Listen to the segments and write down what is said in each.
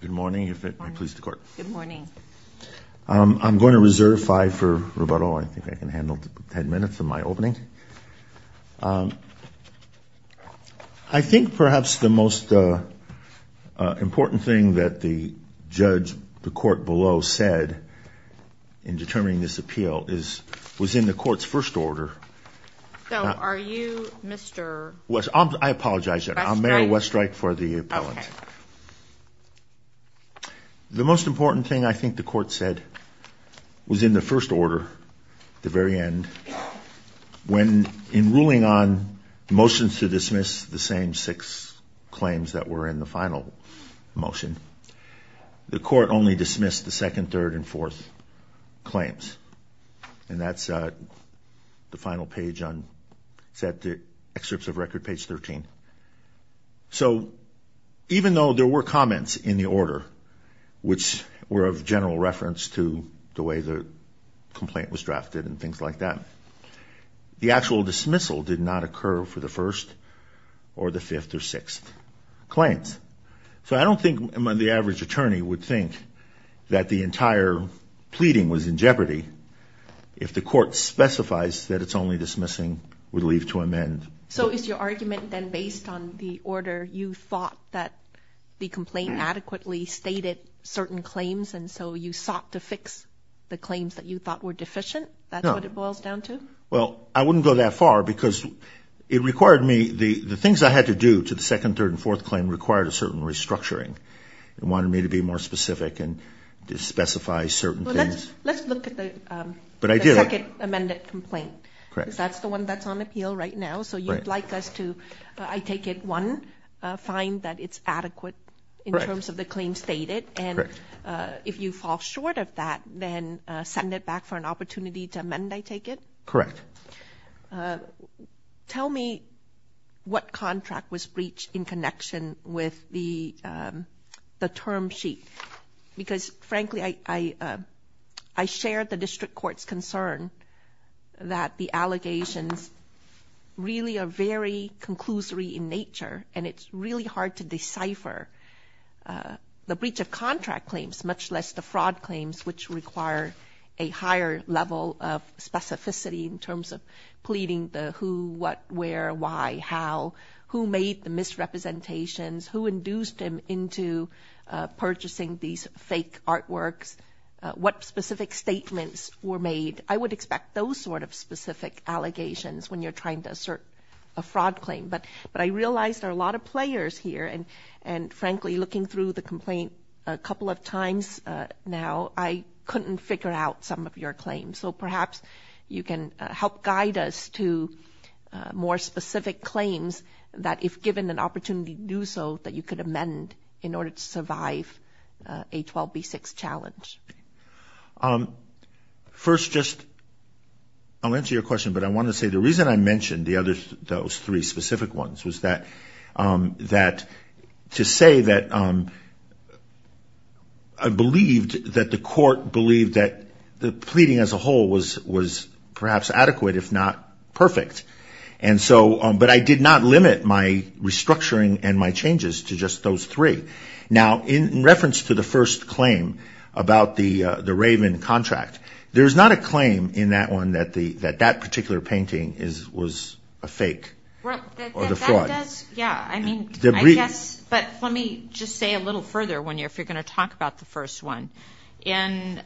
Good morning, if it pleases the court. Good morning. I'm going to reserve five for Roberto. I think I can handle ten minutes of my opening. I think perhaps the most important thing that the judge, the court below, said in determining this appeal was in the court's first order. So are you Mr.? I apologize, I'm Mary Westrike for the appellant. The most important thing I think the court said was in the first order, the very end, when in ruling on motions to dismiss the same six claims that were in the final motion, the court only dismissed the second, third and fourth claims. And that's the final page on, it's at the excerpts of record, page 13. So even though there were comments in the order which were of general reference to the way the complaint was drafted and things like that, the actual dismissal did not occur for the first or the fifth or sixth claims. So I don't think the average attorney would think that the entire pleading was in jeopardy if the court specifies that it's only dismissing would leave to amend. So is your argument then based on the order you thought that the complaint adequately stated certain claims and so you sought to fix the claims that you thought were deficient? That's what it boils down to? Well, I wouldn't go that far because it required me, the things I had to do to the second, third and fourth claim required a more specific and to specify certain things. Let's look at the second amended complaint. Because that's the one that's on appeal right now. So you'd like us to, I take it one, find that it's adequate in terms of the claims stated. And if you fall short of that, then send it back for an opportunity to amend, I take it? Correct. Tell me what contract was breached in connection with the term sheet. Because frankly, I shared the district court's concern that the allegations really are very conclusory in nature. And it's really hard to decipher the breach of contract claims, much less the fraud claims, which require a higher level of specificity in terms of pleading the who, what, where, why, how, who made the misrepresentations, who induced him into purchasing these fake artworks, what specific statements were made. I would expect those sort of specific allegations when you're trying to assert a fraud claim. But I realized there are a lot of players here and frankly, looking through the complaint a couple of times now, I couldn't figure out some of your claims. So perhaps you can help guide us to more specific claims that if given an opportunity to do so, that you could amend in order to survive a 12B6 challenge. First, just, I'll answer your question, but I want to say the reason I mentioned those three believe that the pleading as a whole was perhaps adequate, if not perfect. And so, but I did not limit my restructuring and my changes to just those three. Now, in reference to the first claim about the Raven contract, there's not a claim in that one that that particular painting was a fake or the fraud. Well, that does, yeah, I mean, I guess, but let me just say a little further if you're going to talk about the first one. In,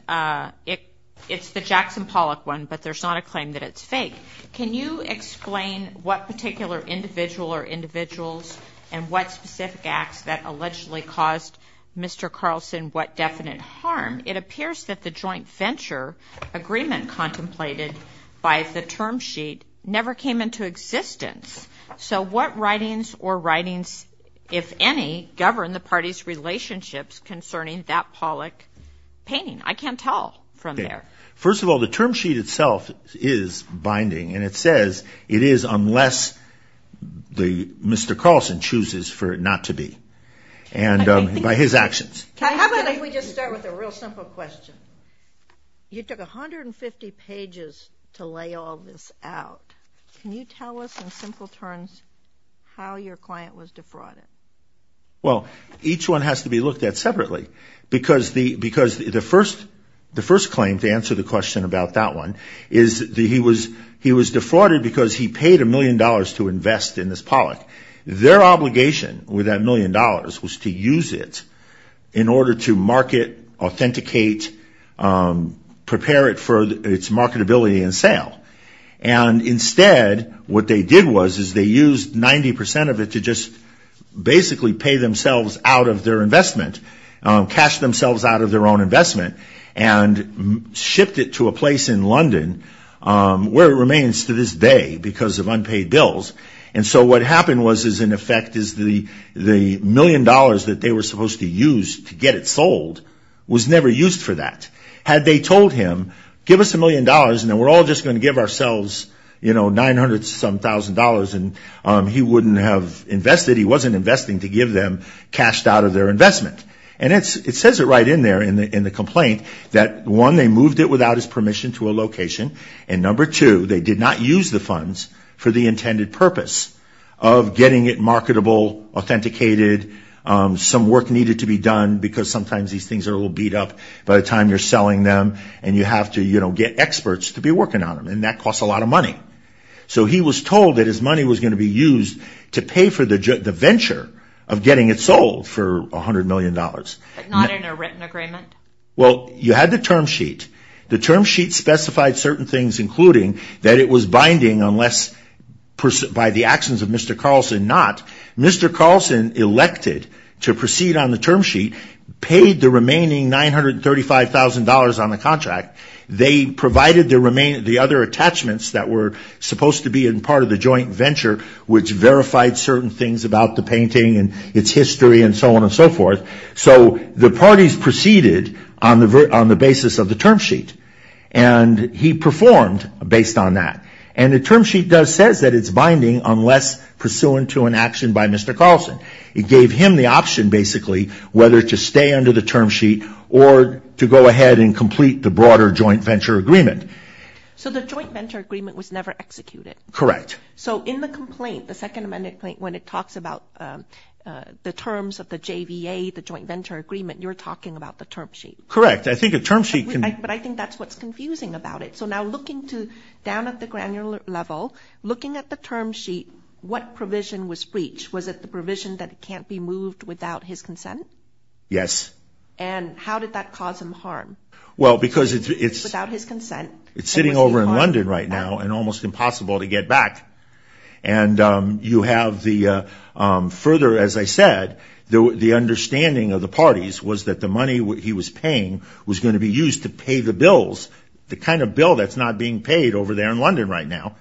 it's the Jackson Pollock one, but there's not a claim that it's fake. Can you explain what particular individual or individuals and what specific acts that allegedly caused Mr. Carlson what definite harm? It appears that the joint venture agreement contemplated by the term sheet never came into existence. So what writings or writings, if any, govern the party's relationships concerning that Pollock painting? I can't tell from there. First of all, the term sheet itself is binding and it says it is unless the Mr. Carlson chooses for it not to be. And by his actions. How about if we just start with a real simple question? You took 150 pages to lay all this out. Can you tell us in simple terms how your client was defrauded? Well, each one has to be looked at separately because the because the first the first claim to answer the question about that one is that he was he was defrauded because he paid a million dollars to invest in this Pollock. Their obligation with that million dollars was to use it in order to market, authenticate, prepare it for its marketability and sale. And instead, what they did was is they used 90% of it to just basically pay themselves out of their investment, cash themselves out of their own investment, and shipped it to a place in London, where it remains to this day because of unpaid bills. And so what happened was is in effect is the the million dollars that they were supposed to use to get it sold was never used for that. Had they told him, give us a million dollars and then we're all just going to give ourselves, you know, 900 some thousand dollars and he wouldn't have invested. He wasn't investing to give them cashed out of their investment. And it's it says it right in there in the in the complaint that one, they moved it without his permission to a location. And number two, they did not use the funds for the intended purpose of getting it marketable, authenticated, some work needed to be done, because sometimes these things are a little beat up by the time you're selling them. And you have to, you know, get experts to be working on them. And that costs a lot of money. So he was told that his money was going to be used to pay for the venture of getting it sold for $100 million. But not in a written agreement? Well, you had the term sheet, the term sheet specified certain things, including that it was binding unless, by the actions of Mr. Carlson not, Mr. Carlson elected to proceed on the term sheet, paid the remaining $935,000 on the contract, they provided the remaining the other attachments that were supposed to be in part of the joint venture, which verified certain things about the painting and its history and so on and so forth. So the parties proceeded on the on the basis of the term sheet. And he was not pursuant to an action by Mr. Carlson. It gave him the option, basically, whether to stay under the term sheet or to go ahead and complete the broader joint venture agreement. So the joint venture agreement was never executed. Correct. So in the complaint, the Second Amendment complaint, when it talks about the terms of the JVA, the joint venture agreement, you're talking about the term sheet. Correct. I think a term sheet can But I think that's what's confusing about it. So now looking to down at the granular level, looking at the term sheet, what provision was breached? Was it the provision that can't be moved without his consent? Yes. And how did that cause him harm? Well, because it's without his consent. It's sitting over in London right now and almost impossible to get back. And you have the further, as I said, the understanding of the pay the bills, the kind of bill that's not being paid over there in London right now,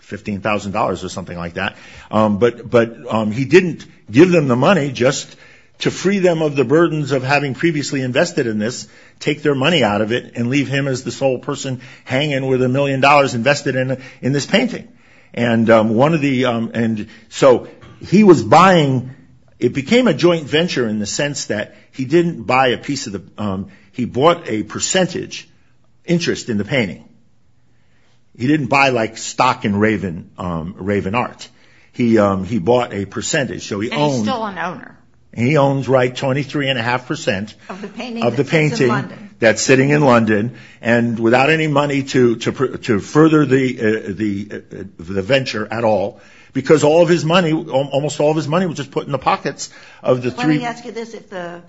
$15,000 or something like that. But he didn't give them the money just to free them of the burdens of having previously invested in this, take their money out of it and leave him as the sole person hanging with a million dollars invested in this painting. And so he was buying, it became a joint venture in the sense that he didn't buy a piece of the, he bought a percentage interest in the painting. He didn't buy like stock in Raven Art. He bought a percentage. And he's still an owner. He owns right 23 and a half percent of the painting that's sitting in London and without any money to, to, to further the, the, the venture at all, because all of his money, almost all of his money was just put in the pockets of the three. Let me ask you this, if the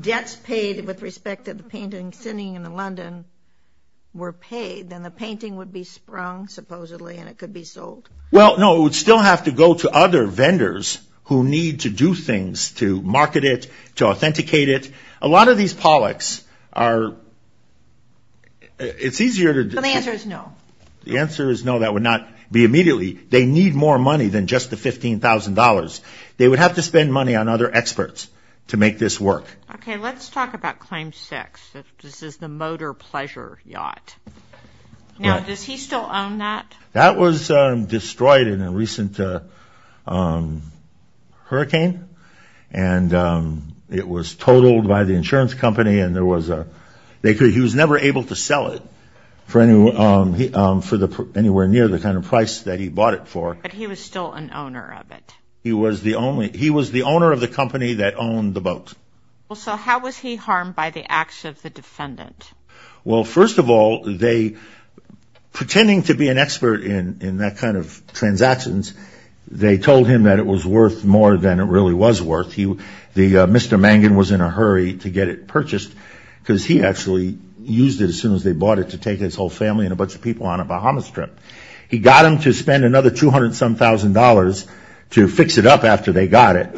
debts paid with respect to the painting sitting in the London were paid, then the painting would be sprung supposedly and it could be sold. Well, no, it would still have to go to other vendors who need to do things to market it, to authenticate it. A lot of these Pollocks are, it's easier to, the answer is no, that would not be immediately. They need more money than just the $15,000. They would have to spend money on other experts to make this work. Okay. Let's talk about claim six. This is the Motor Pleasure Yacht. Now, does he still own that? That was destroyed in a recent hurricane and it was totaled by the insurance company. And there was a, they could, he was never able to sell it for anywhere near the kind of price that he bought it for. But he was still an owner of it. He was the only, he was the owner of the company that owned the boat. Well, so how was he harmed by the acts of the defendant? Well, first of all, they, pretending to be an expert in, in that kind of transactions, they told him that it was worth more than it really was worth. He, the Mr. Mangan was in a hurry to get it purchased because he actually used it as soon as they bought it to take his whole family and a bunch of people on a Bahamas trip. He got him to spend another $200-some-thousand to fix it up after they got it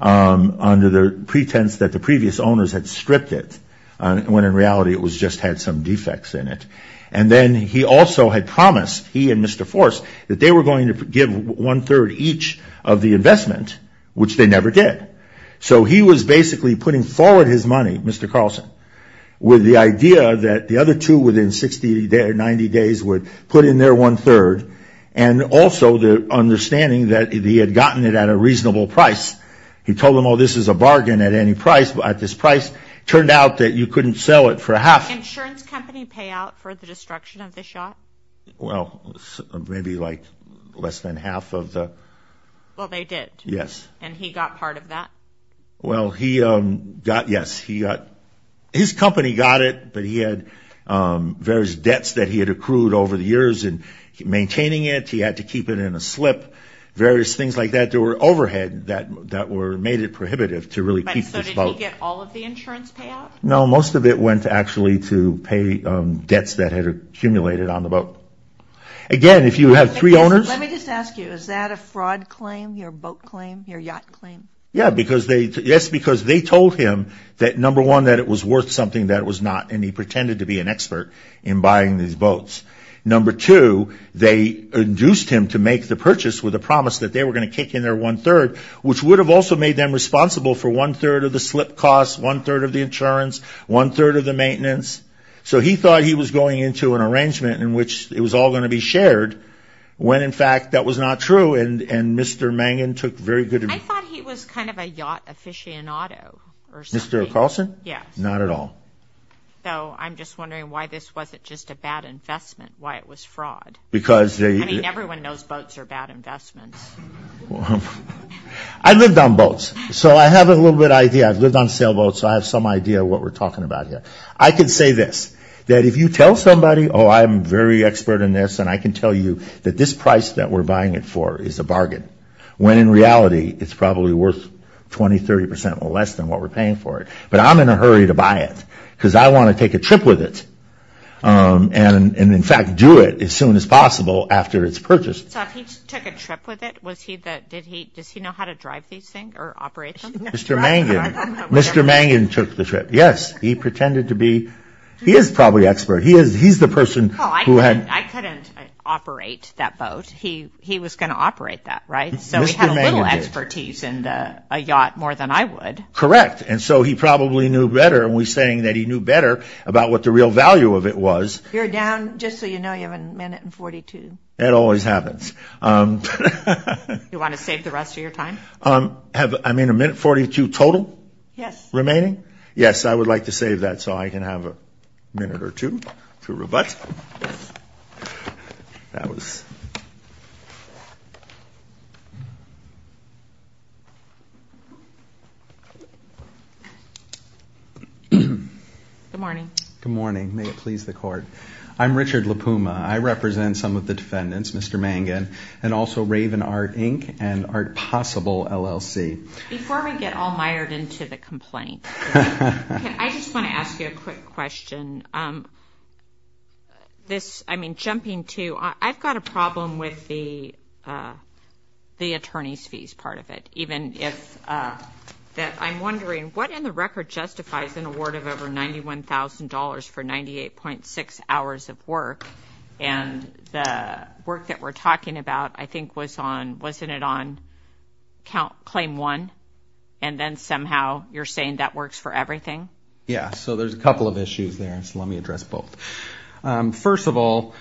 under the pretense that the previous owners had stripped it. When in reality, it was just had some defects in it. And then he also had promised he and Mr. Force that they were going to give one third each of the investment, which they never did. So he was basically putting forward his money, Mr. Carlson, with the idea that the other two within 60 or 90 days would put in their one third. And also the understanding that he had gotten it at a reasonable price. He told them, oh, this is a bargain at any price. But at this price, it turned out that you couldn't sell it for half. Insurance company payout for the destruction of the shot? Well, maybe like less than half of the. Well, they did. Yes. And he got part of that. Well, he got, yes, he got, his company got it, but he had various debts that he had accrued over the years and maintaining it. He had to keep it in a slip, various things like that. There were overhead that, that were made it prohibitive to really keep this boat. All of the insurance payout? No, most of it went to actually to pay debts that had accumulated on the boat. Again, if you have three owners. Let me just ask you, is that a fraud claim? Your boat claim? Your yacht claim? Yeah, because they, yes, because they told him that number one, that it was worth something that it was not. And he pretended to be an expert in buying these boats. Number two, they induced him to make the purchase with a promise that they were going to kick in their one third, which would have also made them slip costs, one third of the insurance, one third of the maintenance. So he thought he was going into an arrangement in which it was all going to be shared when, in fact, that was not true. And, and Mr. Mangan took very good. I thought he was kind of a yacht aficionado or something. Mr. Carlson? Yes. Not at all. So I'm just wondering why this wasn't just a bad investment, why it was fraud? Because they. I mean, everyone knows boats are bad investments. I've lived on boats. So I have a little bit idea. I've lived on sailboats. So I have some idea what we're talking about here. I could say this, that if you tell somebody, oh, I'm very expert in this. And I can tell you that this price that we're buying it for is a bargain. When in reality, it's probably worth 20, 30% or less than what we're paying for it. But I'm in a hurry to buy it because I want to take a trip with it and, in fact, do it as soon as possible after it's purchased. So if he took a trip with it, was he the, did he, does he know how to drive these things? Or operate them? Mr. Mangan. Mr. Mangan took the trip. Yes. He pretended to be, he is probably expert. He is, he's the person who had. I couldn't operate that boat. He, he was going to operate that, right? So he had a little expertise in a yacht more than I would. Correct. And so he probably knew better. And we're saying that he knew better about what the real value of it was. You're down, just so you know, you have a minute and 42. That always happens. You want to save the rest of your time? Have, I mean, a minute 42 total? Yes. Remaining? Yes. I would like to save that so I can have a minute or two to rebut. That was. Good morning. Good morning. May it please the court. I'm Richard La Puma. I represent some of the defendants, Mr. Mangan, and also Raven Art, Inc. and Art Possible, LLC. Before we get all mired into the complaint, I just want to ask you a quick question, this, I mean, jumping to, I've got a problem with the, the attorney's fees part of it, even if that I'm wondering what in the record justifies an award of over $91,000 for 98.6 hours of work and the work that we're talking about, I think was on, wasn't it on count claim one and then somehow you're saying that works for everything? Yeah. So there's a couple of issues there. And so let me address both. Um, first of all,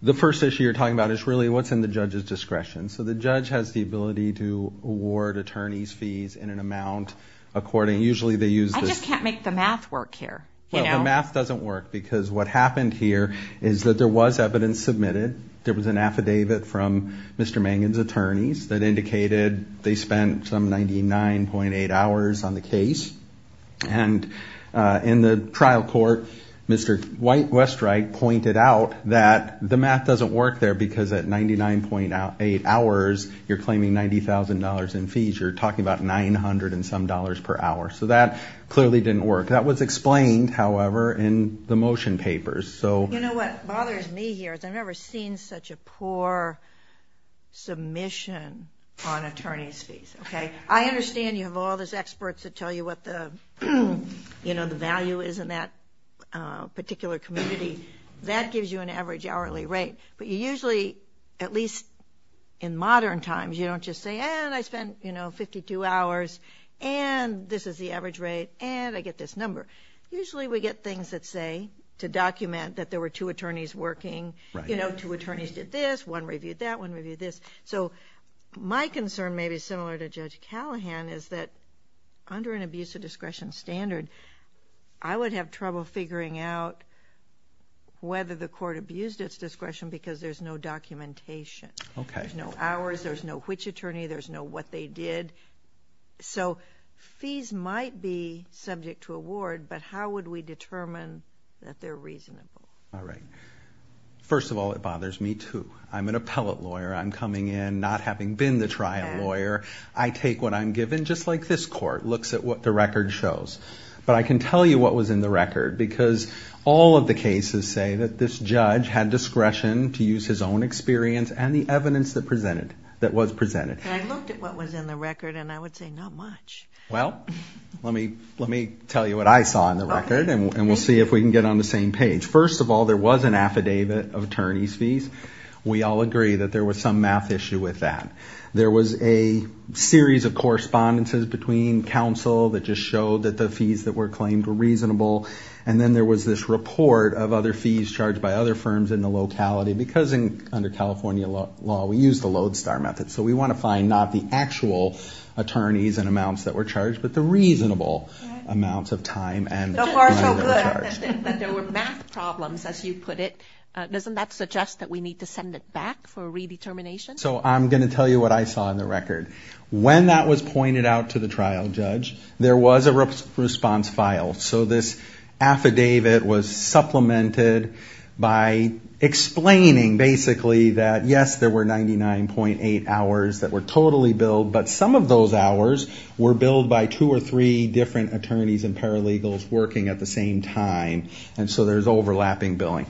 the first issue you're talking about is really what's in the judge's discretion. So the judge has the ability to award attorney's fees in an amount. According, usually they use. I just can't make the math work here. Well, the math doesn't work because what happened here is that there was evidence submitted. There was an affidavit from Mr. Mangan's attorneys that indicated they spent some 99.8 hours on the case. And, uh, in the trial court, Mr. White Westright pointed out that the math doesn't work there because at 99.8 hours, you're claiming $90,000 in fees. You're talking about 900 and some dollars per hour. So that clearly didn't work. That was explained, however, in the motion papers. So. You know, what bothers me here is I've never seen such a poor submission on attorney's fees. Okay. I understand you have all those experts that tell you what the, you know, the value is in that particular community that gives you an average hourly rate, but you usually, at least in modern times, you don't just say, and I spent, you know, two hours and this is the average rate and I get this number. Usually we get things that say, to document that there were two attorneys working, you know, two attorneys did this, one reviewed that, one reviewed this. So my concern may be similar to Judge Callahan is that under an abuse of discretion standard, I would have trouble figuring out whether the court abused its discretion because there's no documentation. Okay. There's no hours. There's no which attorney, there's no what they did. So fees might be subject to award, but how would we determine that they're reasonable? All right. First of all, it bothers me too. I'm an appellate lawyer. I'm coming in, not having been the trial lawyer. I take what I'm given, just like this court looks at what the record shows, but I can tell you what was in the record because all of the cases say that this judge had discretion to use his own experience and the evidence that presented, that was presented. I looked at what was in the record and I would say not much. Well, let me, let me tell you what I saw in the record and we'll see if we can get on the same page. First of all, there was an affidavit of attorney's fees. We all agree that there was some math issue with that. There was a series of correspondences between counsel that just showed that the fees that were claimed were reasonable. And then there was this report of other fees charged by other firms in the locality because under California law, we use the Lodestar method. So we want to find not the actual attorneys and amounts that were charged, but the reasonable amounts of time. And there were math problems, as you put it, doesn't that suggest that we need to send it back for redetermination? So I'm going to tell you what I saw in the record. When that was pointed out to the trial judge, there was a response file. So this affidavit was supplemented by explaining basically that yes, there were 99.8 hours that were totally billed. But some of those hours were billed by two or three different attorneys and paralegals working at the same time. And so there's overlapping billing.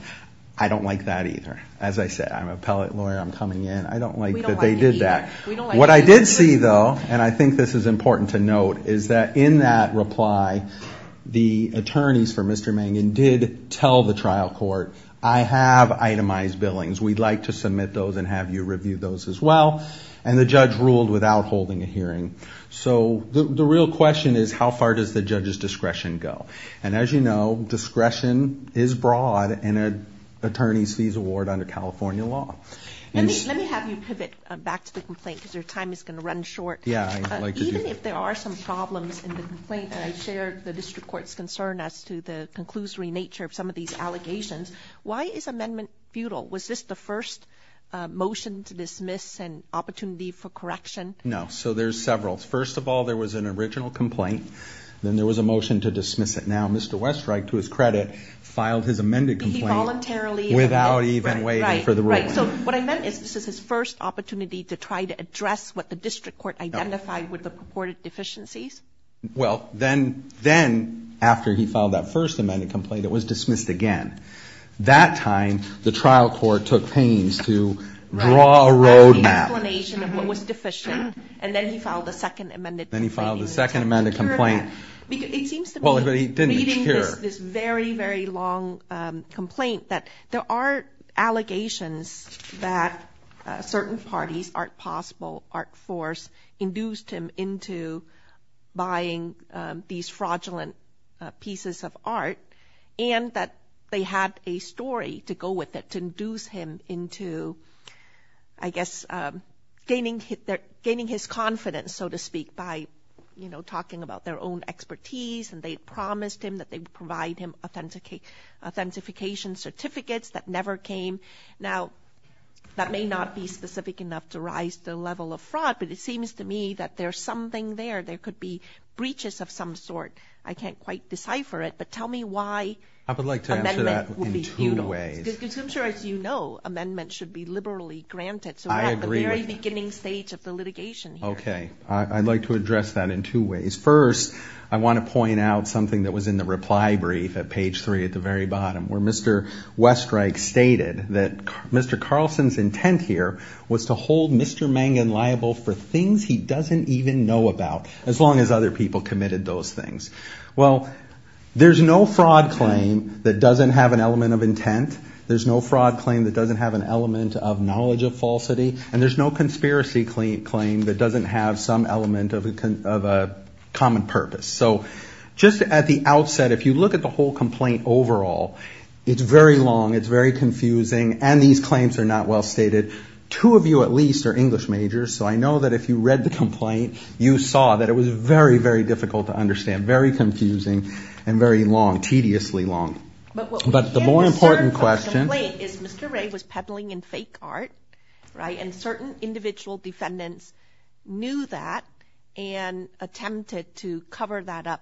I don't like that either. As I said, I'm an appellate lawyer. I'm coming in. I don't like that they did that. What I did see though, and I think this is important to note, is that in that reply, the attorneys for Mr. Mangan did tell the trial court, I have itemized billings. We'd like to submit those and have you review those as well. And the judge ruled without holding a hearing. So the real question is how far does the judge's discretion go? And as you know, discretion is broad and an attorney's fees award under California law. And let me have you pivot back to the complaint because your time is going to run short. Even if there are some problems in the complaint that I shared, the district court's concern as to the conclusory nature of some of these allegations, why is amendment futile? Was this the first motion to dismiss and opportunity for correction? No. So there's several. First of all, there was an original complaint. Then there was a motion to dismiss it. Now, Mr. Westreich, to his credit, filed his amended complaint without even waiting for the ruling. So what I meant is this is his first opportunity to try to address what the district court identified with the purported deficiencies. Well, then, then after he filed that first amended complaint, it was dismissed again. That time, the trial court took pains to draw a road map. The explanation of what was deficient. And then he filed the second amended. Then he filed the second amended complaint. Because it seems to me, reading this very, very long complaint that there are allegations that certain parties, Art Possible, Art Force, induced him into buying these fraudulent pieces of art and that they had a story to go with it to induce him into, I guess, gaining his confidence, so to speak, by talking about their own expertise. And they promised him that they would provide him authentication certificates that never came. Now, that may not be specific enough to rise the level of fraud, but it seems to me that there's something there. There could be breaches of some sort. I can't quite decipher it, but tell me why. I would like to answer that in two ways. Because I'm sure, as you know, amendments should be liberally granted. So we're at the very beginning stage of the litigation here. Okay. I'd like to address that in two ways. First, I want to point out something that was in the reply brief at page three, at the very bottom, where Mr. Westreich stated that Mr. Carlson's intent here was to hold Mr. Mangan liable for things he doesn't even know about, as long as other people committed those things. Well, there's no fraud claim that doesn't have an element of intent. There's no fraud claim that doesn't have an element of knowledge of falsity, and there's no conspiracy claim that doesn't have some element of a common purpose. So just at the outset, if you look at the whole complaint overall, it's very long, it's very confusing, and these claims are not well stated. Two of you, at least, are English majors. So I know that if you read the complaint, you saw that it was very, very difficult to understand, very confusing, and very long, tediously long. But the more important question- But what we can discern from the complaint is Mr. Ray was pebbling in fake art, right? And certain individual defendants knew that and attempted to cover that up.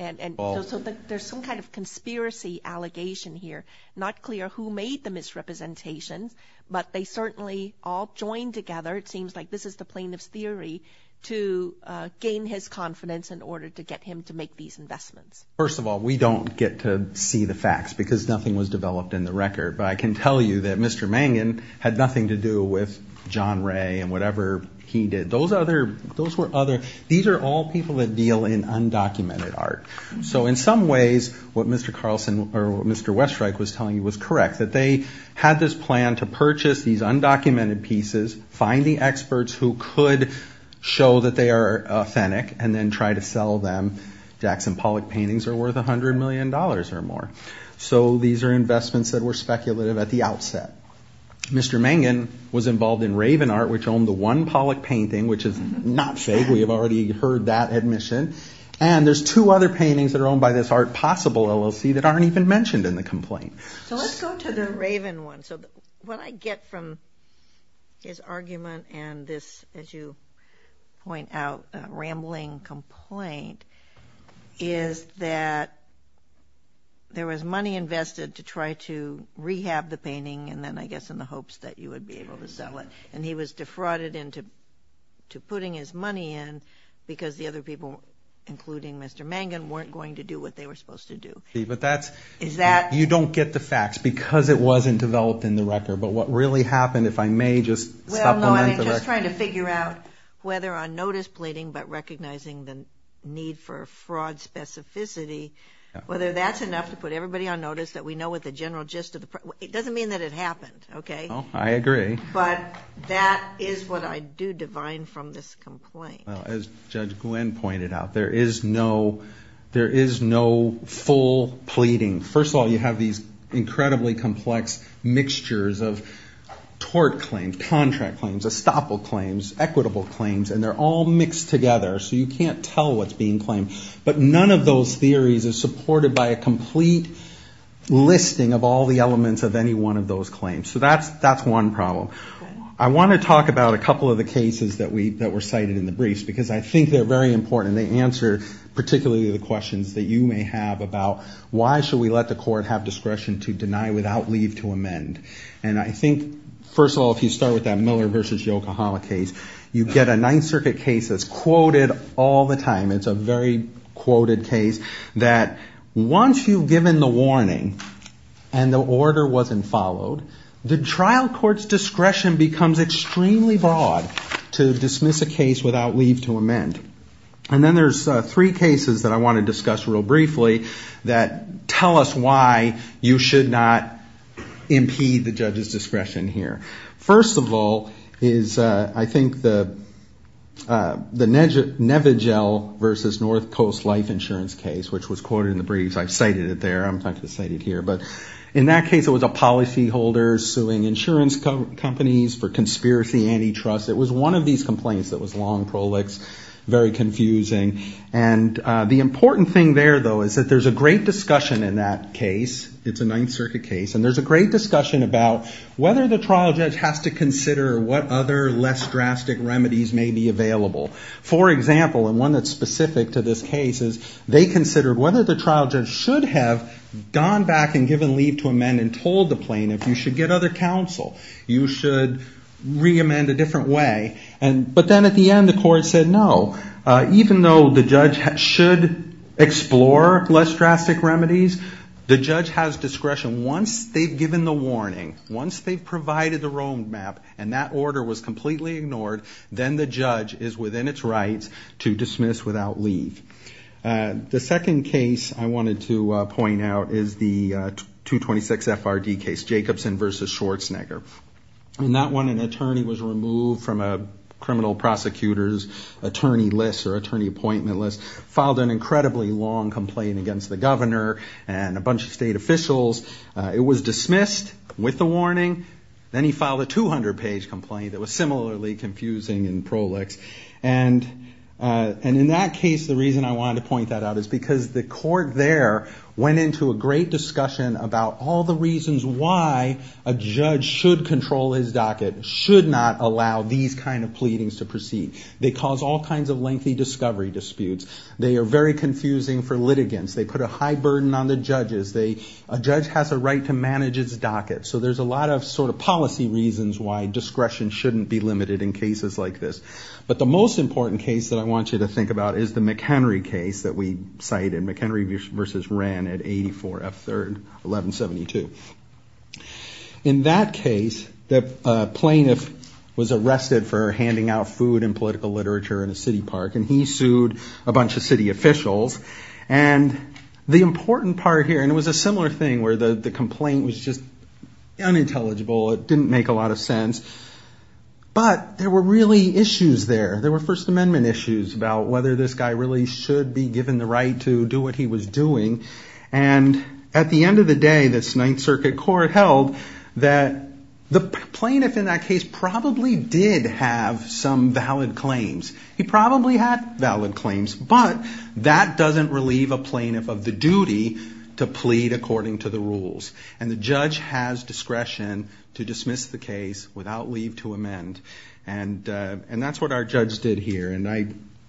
And so there's some kind of conspiracy allegation here. Not clear who made the misrepresentations, but they certainly all joined together. It seems like this is the plaintiff's theory to gain his confidence in order to get him to make these investments. First of all, we don't get to see the facts because nothing was developed in the record, but I can tell you that Mr. Mangan had nothing to do with John Ray and whatever he did. Those other, those were other, these are all people that deal in undocumented art. So in some ways, what Mr. Carlson or Mr. Westreich was telling you was correct, that they had this plan to purchase these undocumented pieces, find the experts who could show that they are authentic, and then try to sell them Jackson Pollock paintings are worth a hundred million dollars or more. So these are investments that were speculative at the outset. Mr. Mangan was involved in Raven Art, which owned the one Pollock painting, which is not fake, we have already heard that admission. And there's two other paintings that are owned by this Art Possible LLC that aren't even mentioned in the complaint. So let's go to the Raven one. So what I get from his argument and this, as you point out, rambling complaint is that there was money invested to try to rehab the painting. And then I guess, in the hopes that you would be able to sell it. And he was defrauded into putting his money in because the other people, including Mr. Mangan, weren't going to do what they were supposed to do. But that's, you don't get the facts. Because it wasn't developed in the record, but what really happened, if I may just supplement the record. Well, no, I'm just trying to figure out whether on notice pleading, but recognizing the need for fraud specificity, whether that's enough to put everybody on notice that we know what the general gist of the... It doesn't mean that it happened. Okay. Oh, I agree. But that is what I do divine from this complaint. Well, as Judge Glenn pointed out, there is no, there is no full pleading. First of all, you have these incredibly complex mixtures of tort claims, contract claims, estoppel claims, equitable claims, and they're all mixed together, so you can't tell what's being claimed, but none of those theories is supported by a complete listing of all the elements of any one of those claims. So that's one problem. I want to talk about a couple of the cases that were cited in the briefs, because I think they're very important. They answer particularly the questions that you may have about why should we let the court have discretion to deny without leave to amend? And I think, first of all, if you start with that Miller versus Yokohama case, you get a Ninth Circuit case that's quoted all the time. It's a very quoted case that once you've given the warning and the order wasn't followed, the trial court's discretion becomes extremely broad to dismiss a case without leave to amend, and then there's three cases that I want to discuss real briefly that tell us why you should not impede the judge's discretion here. First of all is, I think, the Nevigel versus North Coast Life Insurance case, which was quoted in the briefs. I've cited it there. I'm not going to cite it here, but in that case, it was a policyholder suing insurance companies for conspiracy antitrust. It was one of these complaints that was long prolix, very confusing, and the important thing there, though, is that there's a great discussion in that case, it's a Ninth Circuit case, and there's a great discussion about whether the trial judge has to consider what other less drastic remedies may be available. For example, and one that's specific to this case is they considered whether the trial judge should have gone back and given leave to amend and told the plaintiff, you should get other counsel, you should re-amend a different way. But then at the end, the court said, no, even though the judge should explore less drastic remedies, the judge has discretion. Once they've given the warning, once they've provided the road map and that order was completely ignored, then the judge is within its rights to dismiss without leave. The second case I wanted to point out is the 226 FRD case, Jacobson versus Schwarzenegger. And that one, an attorney was removed from a criminal prosecutor's attorney list or attorney appointment list, filed an incredibly long complaint against the governor and a bunch of state officials. It was dismissed with the warning. Then he filed a 200-page complaint that was similarly confusing in prolix. And in that case, the reason I wanted to point that out is because the court there went into a great discussion about all the reasons why a judge should control his docket, should not allow these kind of pleadings to proceed. They cause all kinds of lengthy discovery disputes. They are very confusing for litigants. They put a high burden on the judges. A judge has a right to manage his docket. So there's a lot of sort of policy reasons why discretion shouldn't be limited in cases like this. But the most important case that I want you to think about is the McHenry case that we cited, McHenry versus Wren at 84 F3rd 1172. In that case, the plaintiff was arrested for handing out food and political literature in a city park, and he sued a bunch of city officials. And the important part here, and it was a similar thing where the complaint was just unintelligible. It didn't make a lot of sense, but there were really issues there. There were first amendment issues about whether this guy really should be given the right to do what he was doing. And at the end of the day, this Ninth Circuit court held that the plaintiff in that case probably did have some valid claims. He probably had valid claims, but that doesn't relieve a plaintiff of the duty to plead according to the rules. And the judge has discretion to dismiss the case without leave to amend. And that's what our judge did here. And I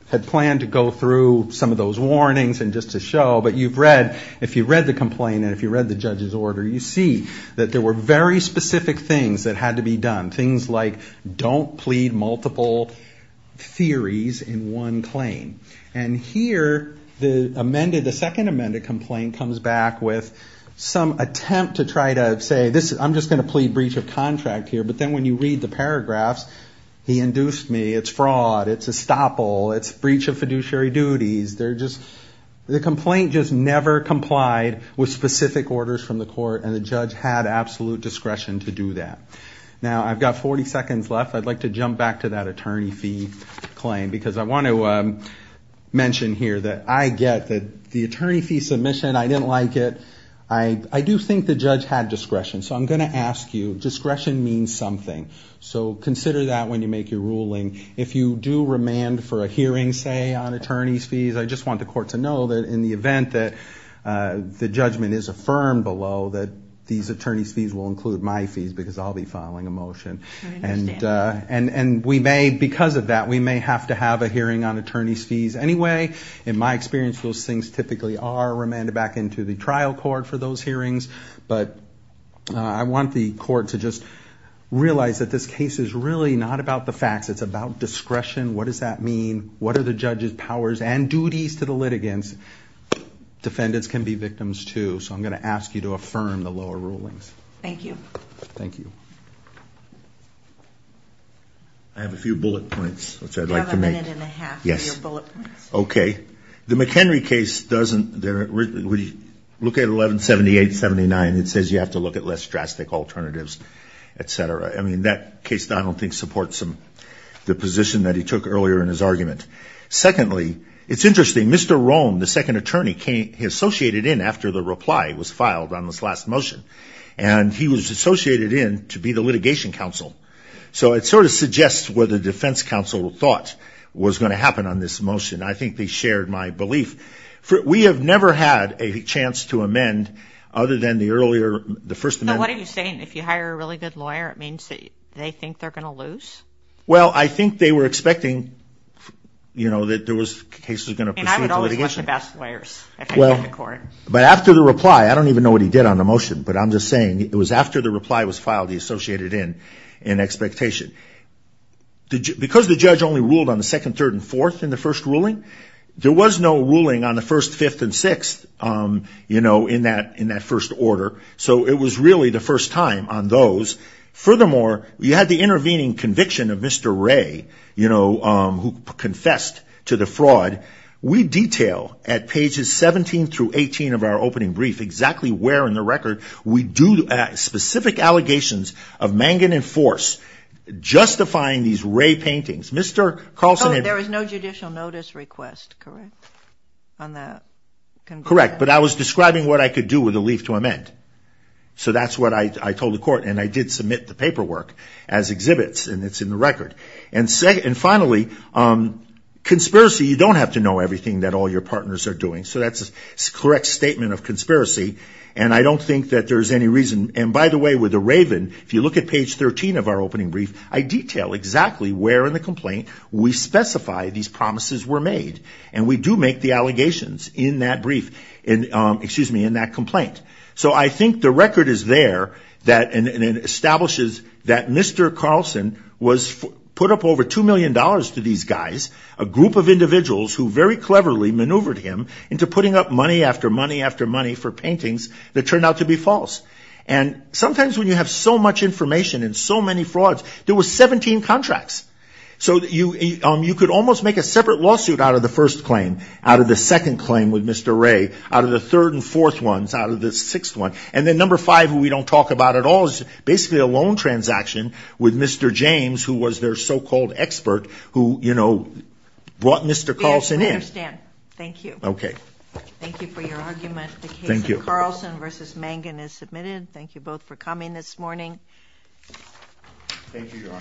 had planned to go through some of those warnings and just to show, but you've read, if you read the complaint and if you read the judge's order, you see that there were very specific things that had to be done. Things like don't plead multiple theories in one claim. And here, the amended, the second amended complaint comes back with some attempt to try to say this, I'm just going to plead breach of contract here. But then when you read the paragraphs, he induced me, it's fraud, it's estoppel, it's breach of fiduciary duties. They're just, the complaint just never complied with specific orders from the court and the judge had absolute discretion to do that. Now I've got 40 seconds left. I'd like to jump back to that attorney fee claim, because I want to mention here that I get that the attorney fee submission, I didn't like it. I do think the judge had discretion. So I'm going to ask you, discretion means something. So consider that when you make your ruling. If you do remand for a hearing, say on attorney's fees, I just want the court to know that in the event that the judgment is affirmed below, that these attorney's fees will include my fees because I'll be filing a motion. And we may, because of that, we may have to have a hearing on attorney's fees anyway, in my experience, those things typically are remanded back into the trial court for those hearings. But I want the court to just realize that this case is really not about the facts. It's about discretion. What does that mean? What are the judge's powers and duties to the litigants? Defendants can be victims too. So I'm going to ask you to affirm the lower rulings. Thank you. Thank you. I have a few bullet points, which I'd like to make. You have a minute and a half for your bullet points. Okay. The McHenry case doesn't, we look at 1178, 79, it says you have to look at less drastic alternatives, et cetera. I mean, that case, I don't think supports the position that he took earlier in his argument. Secondly, it's interesting. Mr. Rome, the second attorney came, he associated in after the reply was filed on this last motion and he was associated in to be the litigation counsel, so it sort of suggests where the defense counsel thought was going to happen on this motion. I think they shared my belief. We have never had a chance to amend other than the earlier, the first amendment. What are you saying? If you hire a really good lawyer, it means that they think they're going to lose? Well, I think they were expecting, you know, that there was cases going to proceed to litigation. And I would always want the best lawyers if I get to court. But after the reply, I don't even know what he did on the motion, but I'm just saying it was after the reply was filed, he associated in, in expectation. Because the judge only ruled on the second, third, and fourth in the first ruling, there was no ruling on the first, fifth, and sixth, you know, in that, in that first order. So it was really the first time on those. Furthermore, you had the intervening conviction of Mr. Ray, you know, who confessed to the fraud. We detail at pages 17 through 18 of our opening brief, exactly where in the record we do specific allegations of manganin force, justifying these Ray paintings, Mr. Carlson. And there was no judicial notice request, correct? On that. Correct. But I was describing what I could do with the leave to amend. So that's what I told the court. And I did submit the paperwork as exhibits and it's in the record. And say, and finally conspiracy, you don't have to know everything that all your partners are doing. So that's a correct statement of conspiracy. And I don't think that there's any reason. And by the way, with the Raven, if you look at page 13 of our opening brief, I detail exactly where in the complaint we specify these promises were made, and we do make the allegations in that brief and excuse me, in that complaint. So I think the record is there that, and it establishes that Mr. Carlson was put up over $2 million to these guys, a group of individuals who very cleverly maneuvered him into putting up money after money, after money for paintings that turned out to be false. And sometimes when you have so much information and so many frauds, there was 17 contracts. So you, you could almost make a separate lawsuit out of the first claim, out of the third and fourth ones out of the sixth one. And then number five, we don't talk about at all is basically a loan transaction with Mr. James, who was their so-called expert who, you know, brought Mr. Carlson in. Thank you. Okay. Thank you for your argument. The case of Carlson versus Mangan is submitted. Thank you both for coming this morning. Thank you, Your Honor.